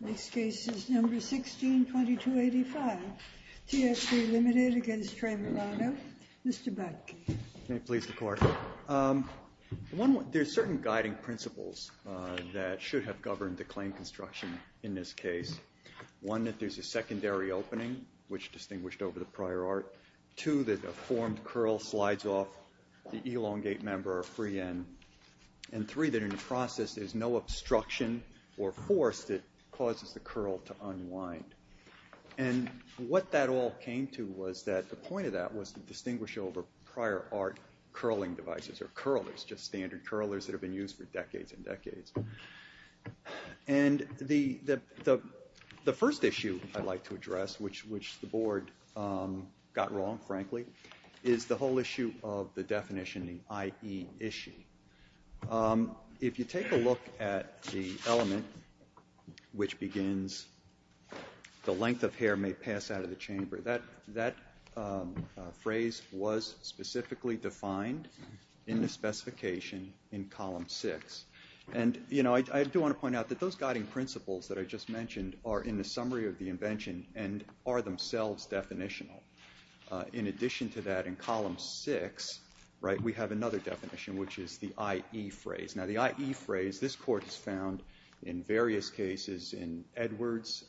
Next case is number 162285, T3 Limited v. TRE Milano. Mr. Buck. May it please the Court. There are certain guiding principles that should have governed the claim construction in this case. One, that there's a secondary opening, which distinguished over the prior art. Two, that a formed curl slides off the elongate member or free end. And three, that in the process there's no obstruction or force that causes the curl to unwind. And what that all came to was that the point of that was to distinguish over prior art curling devices or curlers, just standard curlers that have been used for decades and decades. And the first issue I'd like to address, which the Board got wrong, frankly, is the whole issue of the definition, the I.E. issue. If you take a look at the element which begins, the length of hair may pass out of the chamber, that phrase was specifically defined in the specification in column 6. And, you know, I do want to point out that those guiding principles that I just mentioned are in the summary of the invention and are themselves definitional. In addition to that, in column 6, right, we have another definition, which is the I.E. phrase. Now, the I.E. phrase, this Court has found in various cases in Edwards,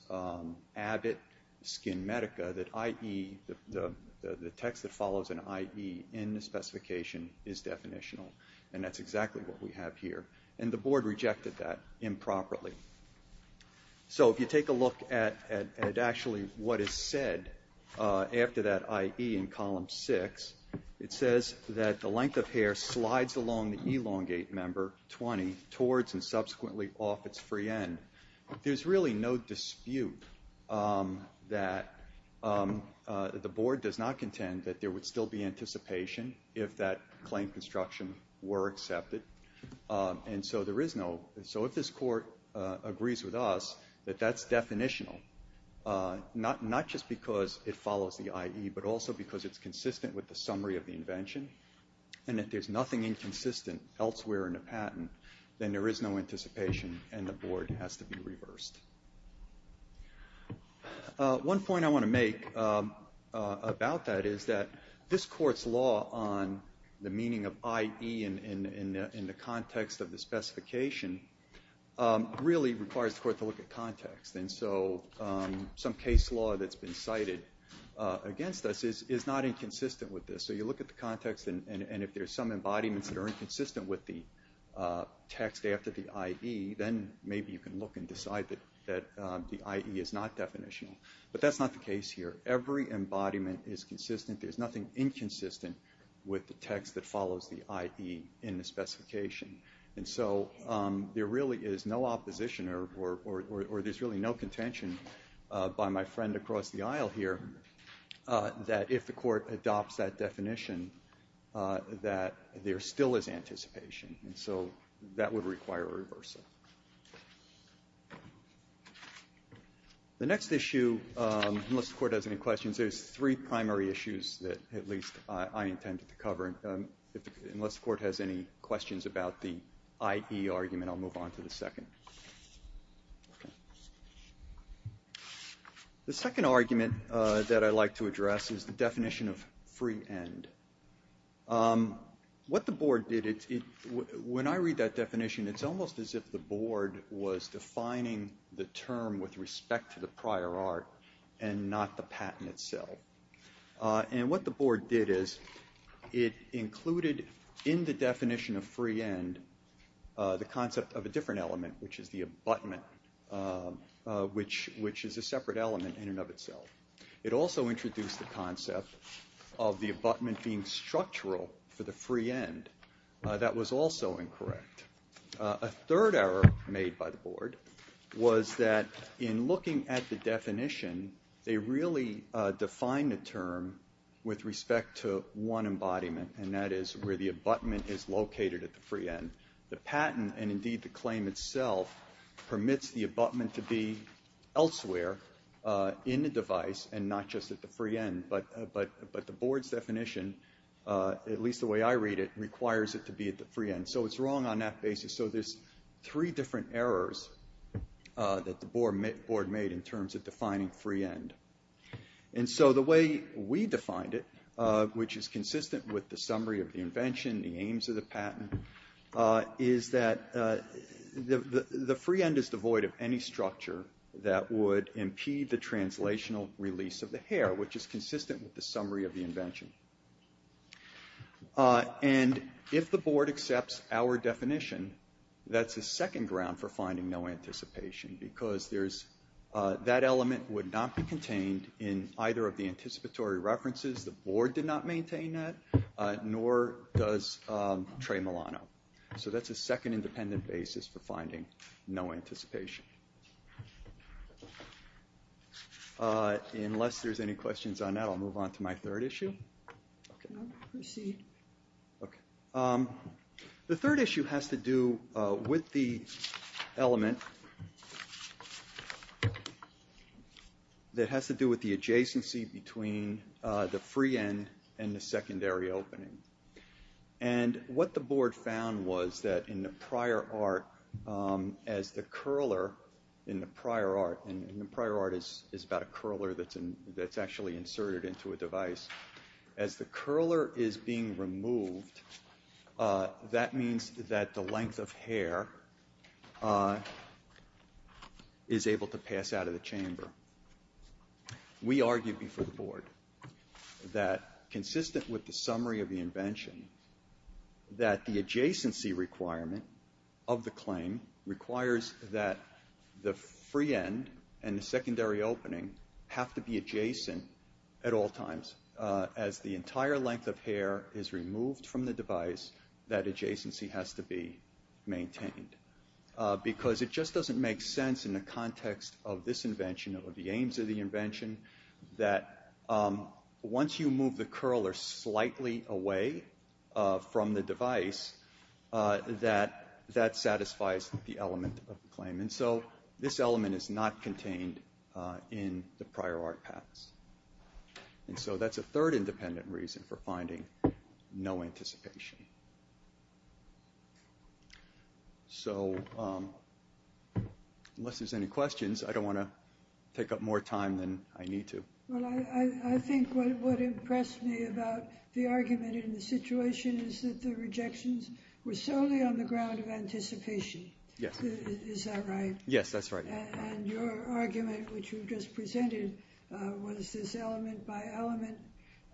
Abbott, Skin Medica, that I.E., the text that follows an I.E. in the specification is definitional. And that's exactly what we have here. And the Board rejected that improperly. So if you take a look at actually what is said after that I.E. in column 6, it says that the length of hair slides along the elongate member, 20, towards and subsequently off its free end. There's really no dispute that the Board does not contend that there would still be anticipation if that claim construction were accepted. And so there is no, so if this Court agrees with us that that's definitional, not just because it follows the I.E., but also because it's consistent with the summary of the invention and that there's nothing inconsistent elsewhere in the patent, then there is no anticipation and the Board has to be reversed. One point I want to make about that is that this Court's law on the meaning of I.E. in the context of the specification really requires the Court to look at context. And so some case law that's been cited against us is not inconsistent with this. So you look at the context and if there's some embodiments that are inconsistent with the text after the I.E., then maybe you can look and decide that the I.E. is not definitional. But that's not the case here. Every embodiment is consistent. There's nothing inconsistent with the text that follows the I.E. in the specification. And so there really is no opposition or there's really no contention by my friend across the aisle here that if the Court adopts that definition that there still is anticipation. And so that would require a reversal. The next issue, unless the Court has any questions, there's three primary issues that at least I intended to cover. Unless the Court has any questions about the I.E. argument, I'll move on to the second. The second argument that I'd like to address is the definition of free end. What the Board did, when I read that definition, it's almost as if the Board was defining the term with respect to the prior art and not the patent itself. And what the Board did is it included in the definition of free end the concept of a different element, which is the abutment, which is a separate element in and of itself. It also introduced the concept of the abutment being structural for the free end. That was also incorrect. A third error made by the Board was that in looking at the definition, they really defined the term with respect to one embodiment, and that is where the abutment is located at the free end. The patent, and indeed the claim itself, permits the abutment to be elsewhere in the device and not just at the free end. But the Board's definition, at least the way I read it, requires it to be at the free end. So it's wrong on that basis. So there's three different errors that the Board made in terms of defining free end. And so the way we defined it, which is consistent with the summary of the invention, the aims of the patent, is that the free end is devoid of any structure that would impede the translational release of the hair, which is consistent with the summary of the invention. And if the Board accepts our definition, that's a second ground for finding no anticipation, because that element would not be contained in either of the anticipatory references. The Board did not maintain that, nor does Trey Milano. So that's a second independent basis for finding no anticipation. Unless there's any questions on that, I'll move on to my third issue. The third issue has to do with the element that has to do with the adjacency between the free end and the secondary opening. And what the Board found was that in the prior art, as the curler in the prior art, and the prior art is about a curler that's actually inserted into a device, as the curler is being removed, that means that the length of hair is able to pass out of the chamber. We argued before the Board that, consistent with the summary of the invention, that the adjacency requirement of the claim requires that the free end and the secondary opening have to be adjacent at all times. As the entire length of hair is removed from the device, that adjacency has to be maintained. Because it just doesn't make sense in the context of this invention, or the aims of the invention, that once you move the curler slightly away from the device, that that satisfies the element of the claim. And so this element is not contained in the prior art patents. And so that's a third independent reason for finding no anticipation. So, unless there's any questions, I don't want to take up more time than I need to. Well, I think what impressed me about the argument in the situation is that the rejections were solely on the ground of anticipation. Yes. Is that right? Yes, that's right. And your argument, which you just presented, was this element by element.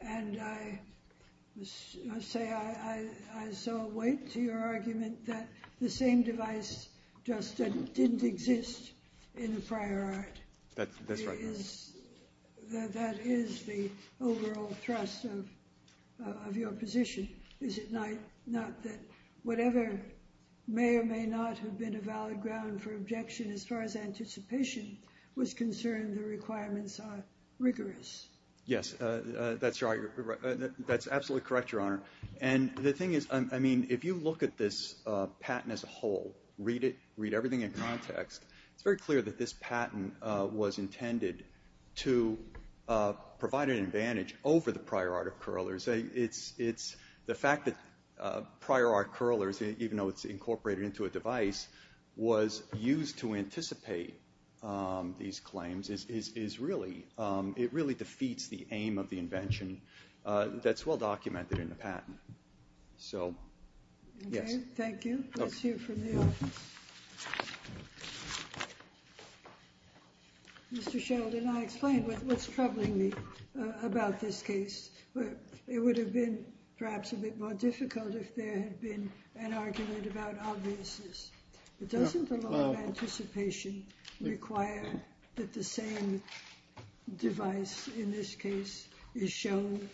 And I must say I saw weight to your argument that the same device just didn't exist in the prior art. That's right. That is the overall thrust of your position. Not that whatever may or may not have been a valid ground for objection, as far as anticipation was concerned, the requirements are rigorous. Yes, that's right. That's absolutely correct, Your Honor. And the thing is, I mean, if you look at this patent as a whole, read it, read everything in context, it's very clear that this patent was intended to provide an advantage over the prior art of curlers. It's the fact that prior art curlers, even though it's incorporated into a device, was used to anticipate these claims is really, it really defeats the aim of the invention that's well documented in the patent. So, yes. Okay, thank you. That's you from the office. Mr. Sheldon, I explained what's troubling me about this case. It would have been perhaps a bit more difficult if there had been an argument about obviousness. Doesn't the law of anticipation require that the same device, in this case, is shown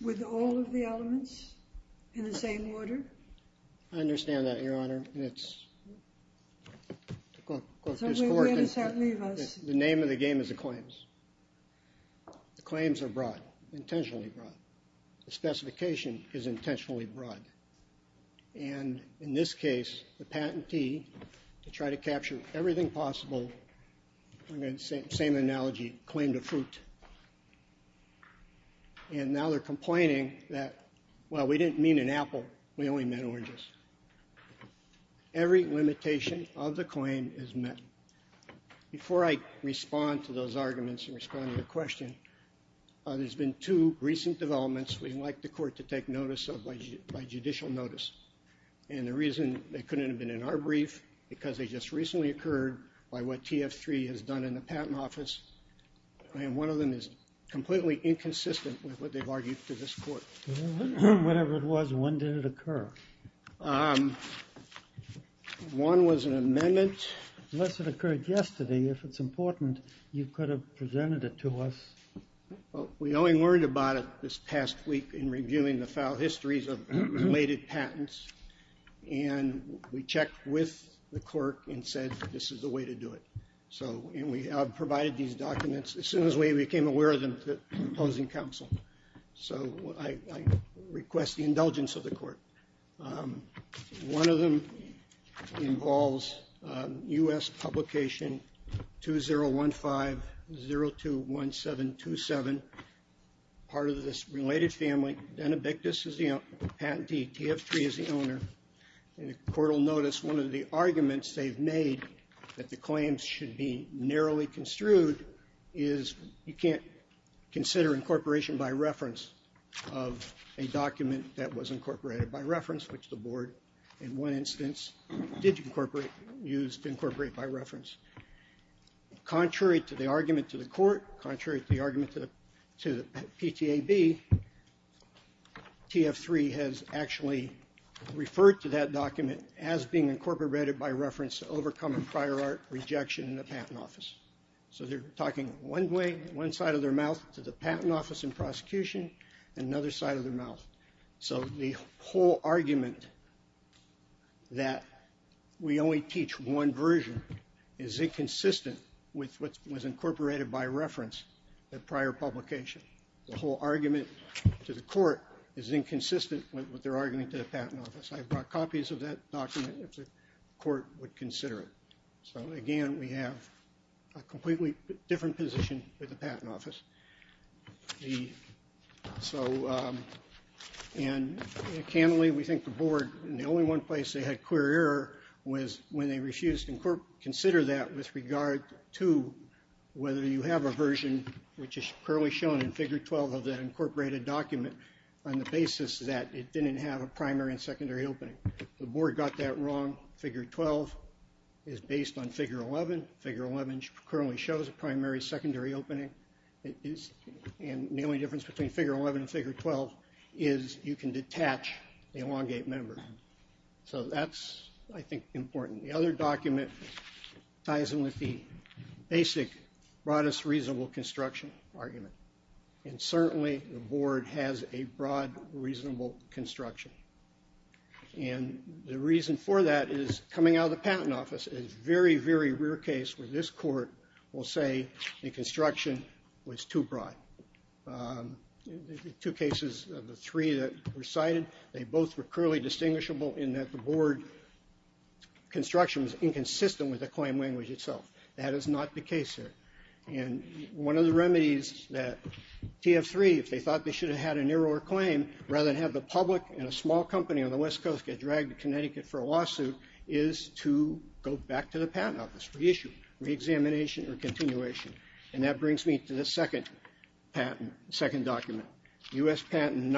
with all of the elements in the same order? I understand that, Your Honor. And it's, to quote this court, the name of the game is the claims. The claims are broad, intentionally broad. The specification is intentionally broad. And in this case, the patentee, to try to capture everything possible, the same analogy, claimed a fruit. And now they're complaining that, well, we didn't mean an apple. We only meant oranges. Every limitation of the claim is met. Before I respond to those arguments and respond to your question, there's been two recent developments we'd like the court to take notice of by judicial notice. And the reason they couldn't have been in our brief, because they just recently occurred by what TF3 has done in the patent office, and one of them is completely inconsistent with what they've argued to this court. Whenever it was, when did it occur? One was an amendment. Unless it occurred yesterday, if it's important, you could have presented it to us. We only learned about it this past week in reviewing the file histories of related patents. And we checked with the clerk and said, this is the way to do it. And we provided these documents as soon as we became aware of them to the opposing counsel. So I request the indulgence of the court. One of them involves U.S. publication 2015-02-1727. Part of this related family, Denebictus is the patentee, TF3 is the owner. And the court will notice one of the arguments they've made that the claims should be narrowly construed is you can't consider incorporation by reference of a document that was incorporated by reference, which the board in one instance did incorporate used to incorporate by reference. Contrary to the argument to the court, contrary to the argument to the PTAB, TF3 has actually referred to that document as being incorporated by reference to overcoming prior art rejection in the patent office. So they're talking one way, one side of their mouth to the patent office and prosecution, and another side of their mouth. So the whole argument that we only teach one version is inconsistent with what was incorporated by reference at prior publication. The whole argument to the court is inconsistent with their argument to the patent office. I brought copies of that document if the court would consider it. So, again, we have a completely different position with the patent office. And candidly, we think the board, and the only one place they had clear error was when they refused to consider that with regard to whether you have a version which is currently shown in figure 12 of that incorporated document on the basis that it didn't have a primary and secondary opening. The board got that wrong. Figure 12 is based on figure 11. Figure 11 currently shows a primary, secondary opening. And the only difference between figure 11 and figure 12 is you can detach the elongate member. So that's, I think, important. The other document ties in with the basic broadest reasonable construction argument. And certainly the board has a broad reasonable construction. And the reason for that is coming out of the patent office is a very, very rare case where this court will say the construction was too broad. Two cases of the three that were cited, they both were clearly distinguishable in that the board construction was inconsistent with the claim language itself. That is not the case here. And one of the remedies that TF3, if they thought they should have had a narrower claim, rather than have the public and a small company on the West Coast get dragged to Connecticut for a lawsuit, is to go back to the patent office, reissue, reexamination, or continuation. And that brings me to the second patent, second document. U.S. Patent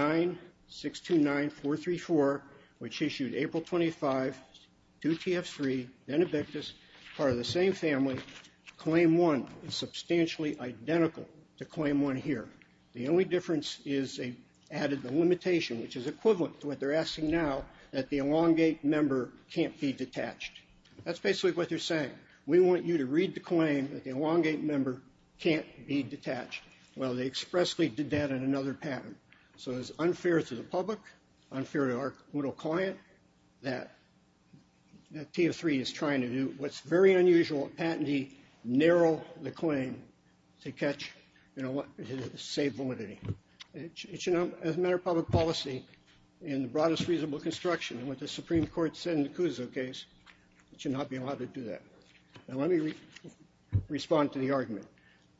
9629434, which issued April 25 to TF3, Benebictus, part of the same family. Claim one is substantially identical to claim one here. The only difference is they added the limitation, which is equivalent to what they're asking now, that the elongate member can't be detached. That's basically what they're saying. We want you to read the claim that the elongate member can't be detached. Well, they expressly did that in another patent. So it's unfair to the public, unfair to our brutal client, that TF3 is trying to do what's very unusual, patentee, narrow the claim to catch, you know, save validity. It should not, as a matter of public policy, in the broadest reasonable construction, and what the Supreme Court said in the Cuso case, it should not be allowed to do that. Now let me respond to the argument.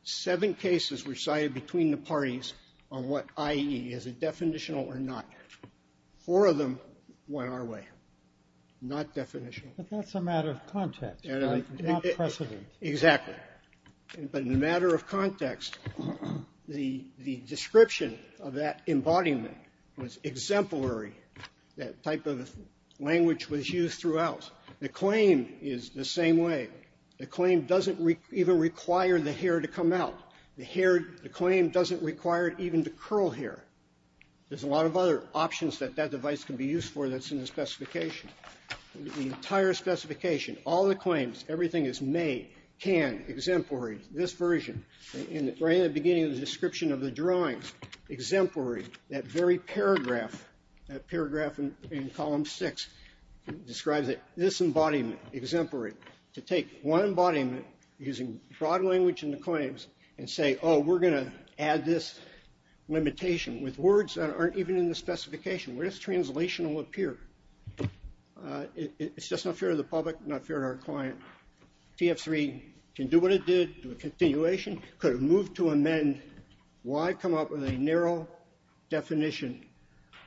Seven cases were cited between the parties on what, i.e., is it definitional or not. Four of them went our way, not definitional. But that's a matter of context, not precedent. Exactly. But in a matter of context, the description of that embodiment was exemplary, that type of language was used throughout. The claim is the same way. The claim doesn't even require the hair to come out. The claim doesn't require even to curl hair. There's a lot of other options that that device can be used for that's in the specification. The entire specification, all the claims, everything is made, can, exemplary. This version, right at the beginning of the description of the drawings, exemplary, that very paragraph, that paragraph in column six, describes it, this embodiment, exemplary, to take one embodiment using broad language in the claims and say, oh, we're going to add this limitation with words that aren't even in the specification. Where does translational appear? It's just not fair to the public, not fair to our client. TF3 can do what it did, do a continuation, could move to amend. Why come up with a narrow definition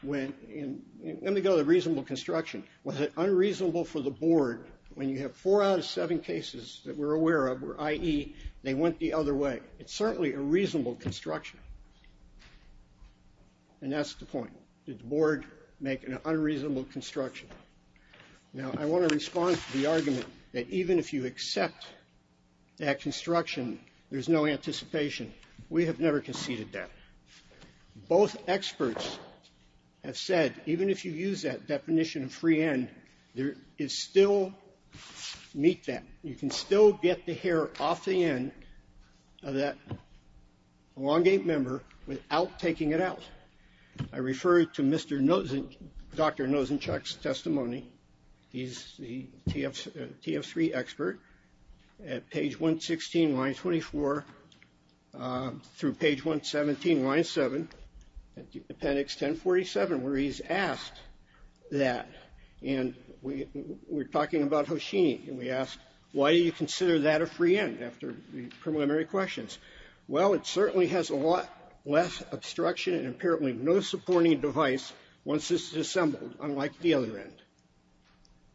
when, let me go to reasonable construction. Was it unreasonable for the board when you have four out of seven cases that we're aware of, i.e., they went the other way? It's certainly a reasonable construction. And that's the point. Did the board make an unreasonable construction? Now, I want to respond to the argument that even if you accept that construction, there's no anticipation. We have never conceded that. Both experts have said even if you use that definition of free end, there is still meet that. You can still get the hair off the end of that elongate member without taking it out. I refer to Mr. Nosenchuk, Dr. Nosenchuk's testimony. He's the TF3 expert. At page 116, line 24, through page 117, line 7, appendix 1047, where he's asked that, and we're talking about Hoshini, and we asked, why do you consider that a free end after the preliminary questions? Well, it certainly has a lot less obstruction and apparently no supporting device once this is assembled, unlike the other end.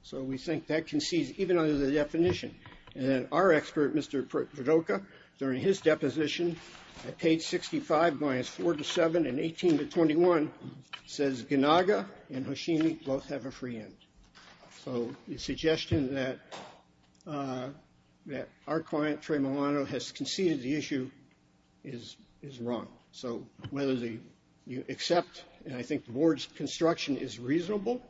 So we think that concedes even under the definition. And our expert, Mr. Verdoka, during his deposition at page 65, lines 4 to 7 and 18 to 21, says Ganaga and Hoshini both have a free end. So the suggestion that our client, Trey Milano, has conceded the issue is wrong. So whether you accept, and I think the board's construction is reasonable,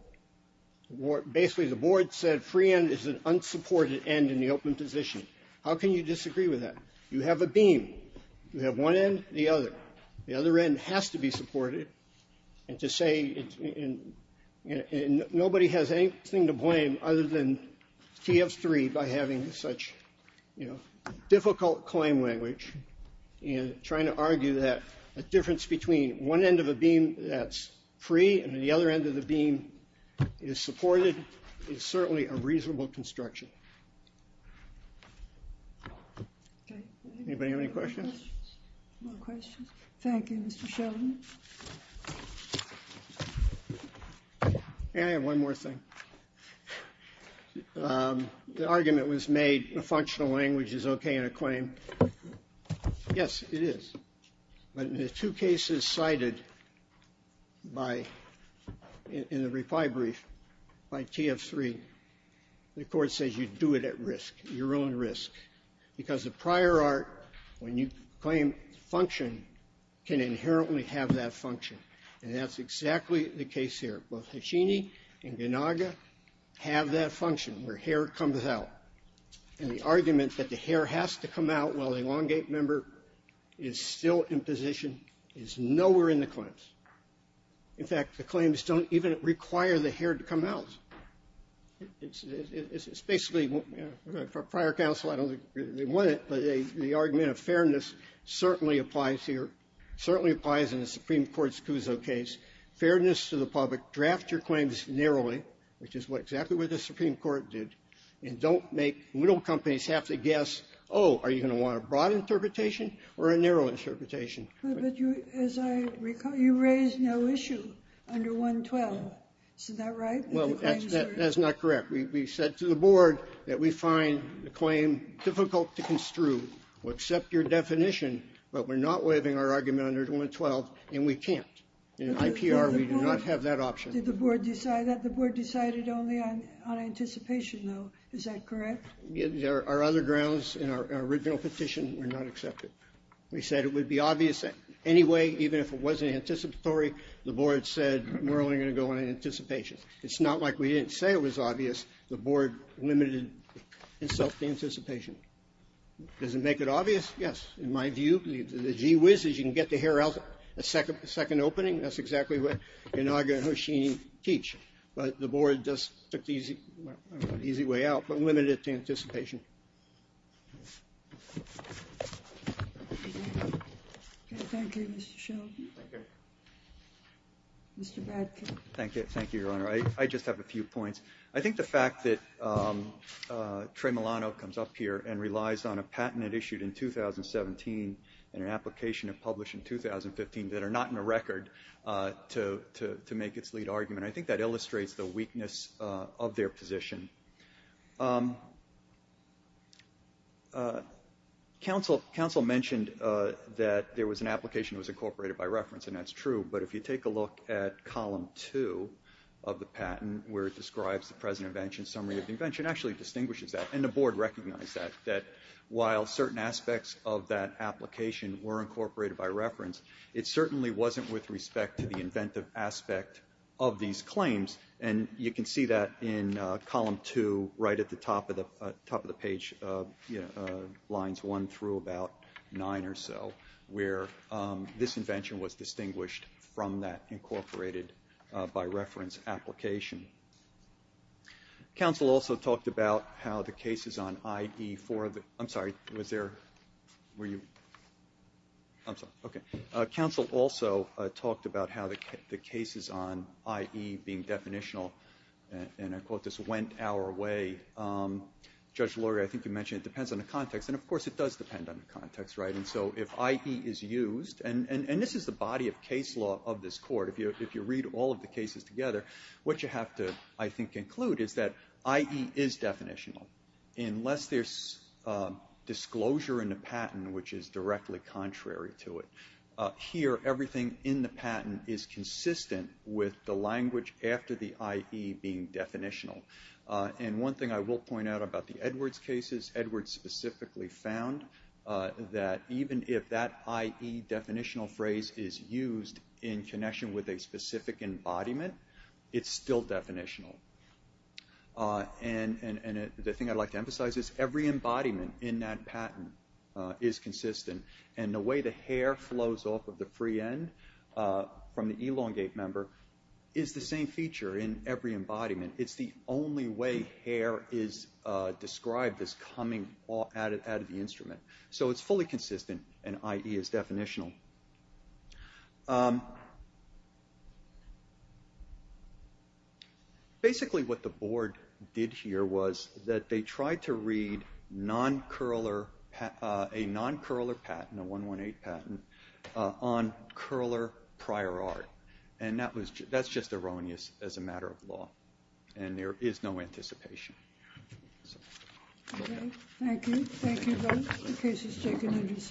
basically the board said free end is an unsupported end in the open position. How can you disagree with that? You have a beam. You have one end, the other. The other end has to be supported. And to say nobody has anything to blame other than TF3 by having such, you know, a difference between one end of a beam that's free and the other end of the beam is supported is certainly a reasonable construction. Anybody have any questions? No questions. Thank you, Mr. Sheldon. May I have one more thing? The argument was made a functional language is okay in a claim. Yes, it is. But in the two cases cited by the reply brief by TF3, the Court says you do it at risk, your own risk. Because the prior art, when you claim function, can inherently have that function. And that's exactly the case here. Both Hoshini and Ganaga have that function where hair comes out. And the argument that the hair has to come out while the elongate member is still in position is nowhere in the claims. In fact, the claims don't even require the hair to come out. It's basically prior counsel, I don't think they want it, but the argument of fairness certainly applies here, certainly applies in the Supreme Court's Cuso case. Fairness to the public, draft your claims narrowly, which is exactly what the Supreme Court did, and don't make little companies have to guess, oh, are you going to want a broad interpretation or a narrow interpretation? But you, as I recall, you raised no issue under 112. Is that right? That's not correct. We said to the Board that we find the claim difficult to construe. We'll accept your definition, but we're not waiving our argument under 112, and we can't. In IPR, we do not have that option. Did the Board decide that? The Board decided only on anticipation, though. Is that correct? Our other grounds in our original petition were not accepted. We said it would be obvious anyway, even if it wasn't anticipatory. The Board said we're only going to go on anticipation. It's not like we didn't say it was obvious. The Board limited itself to anticipation. Does it make it obvious? Yes, in my view. The gee whiz is you can get the hair out a second opening. That's exactly what Inaga and Hoshini teach. But the Board just took the easy way out, but limited it to anticipation. Thank you, Mr. Shelby. Thank you. Mr. Bradkin. Thank you, Your Honor. I just have a few points. I think the fact that Trey Milano comes up here and relies on a patent issued in 2017 and an application published in 2015 that are not in a record to make its lead argument, I think that illustrates the weakness of their position. Counsel mentioned that there was an application that was incorporated by reference, and that's true. But if you take a look at Column 2 of the patent, where it describes the present invention, summary of the invention, it actually distinguishes that, and the Board recognized that, while certain aspects of that application were incorporated by reference, it certainly wasn't with respect to the inventive aspect of these claims. And you can see that in Column 2 right at the top of the page, lines 1 through about 9 or so, where this invention was distinguished from that incorporated by reference application. Counsel also talked about how the cases on I.E. for the – I'm sorry, was there – were you – I'm sorry. Okay. Counsel also talked about how the cases on I.E. being definitional, and I quote, this went our way. Judge Lori, I think you mentioned it depends on the context. And, of course, it does depend on the context, right? And so if I.E. is used, and this is the body of case law of this court. If you read all of the cases together, what you have to, I think, include is that I.E. is definitional, unless there's disclosure in the patent, which is directly contrary to it. Here, everything in the patent is consistent with the language after the I.E. being definitional. And one thing I will point out about the Edwards cases, Edwards specifically found that even if that I.E. definitional phrase is used in connection with a specific embodiment, it's still definitional. And the thing I'd like to emphasize is every embodiment in that patent is consistent. And the way the hair flows off of the free end from the elongate member is the same feature in every embodiment. It's the only way hair is described as coming out of the instrument. So it's fully consistent, and I.E. is definitional. Basically what the board did here was that they tried to read a non-Curler patent, a 118 patent, on Curler prior art. And that's just erroneous as a matter of law, and there is no anticipation. Okay. Thank you. Thank you both. The case is taken into submission.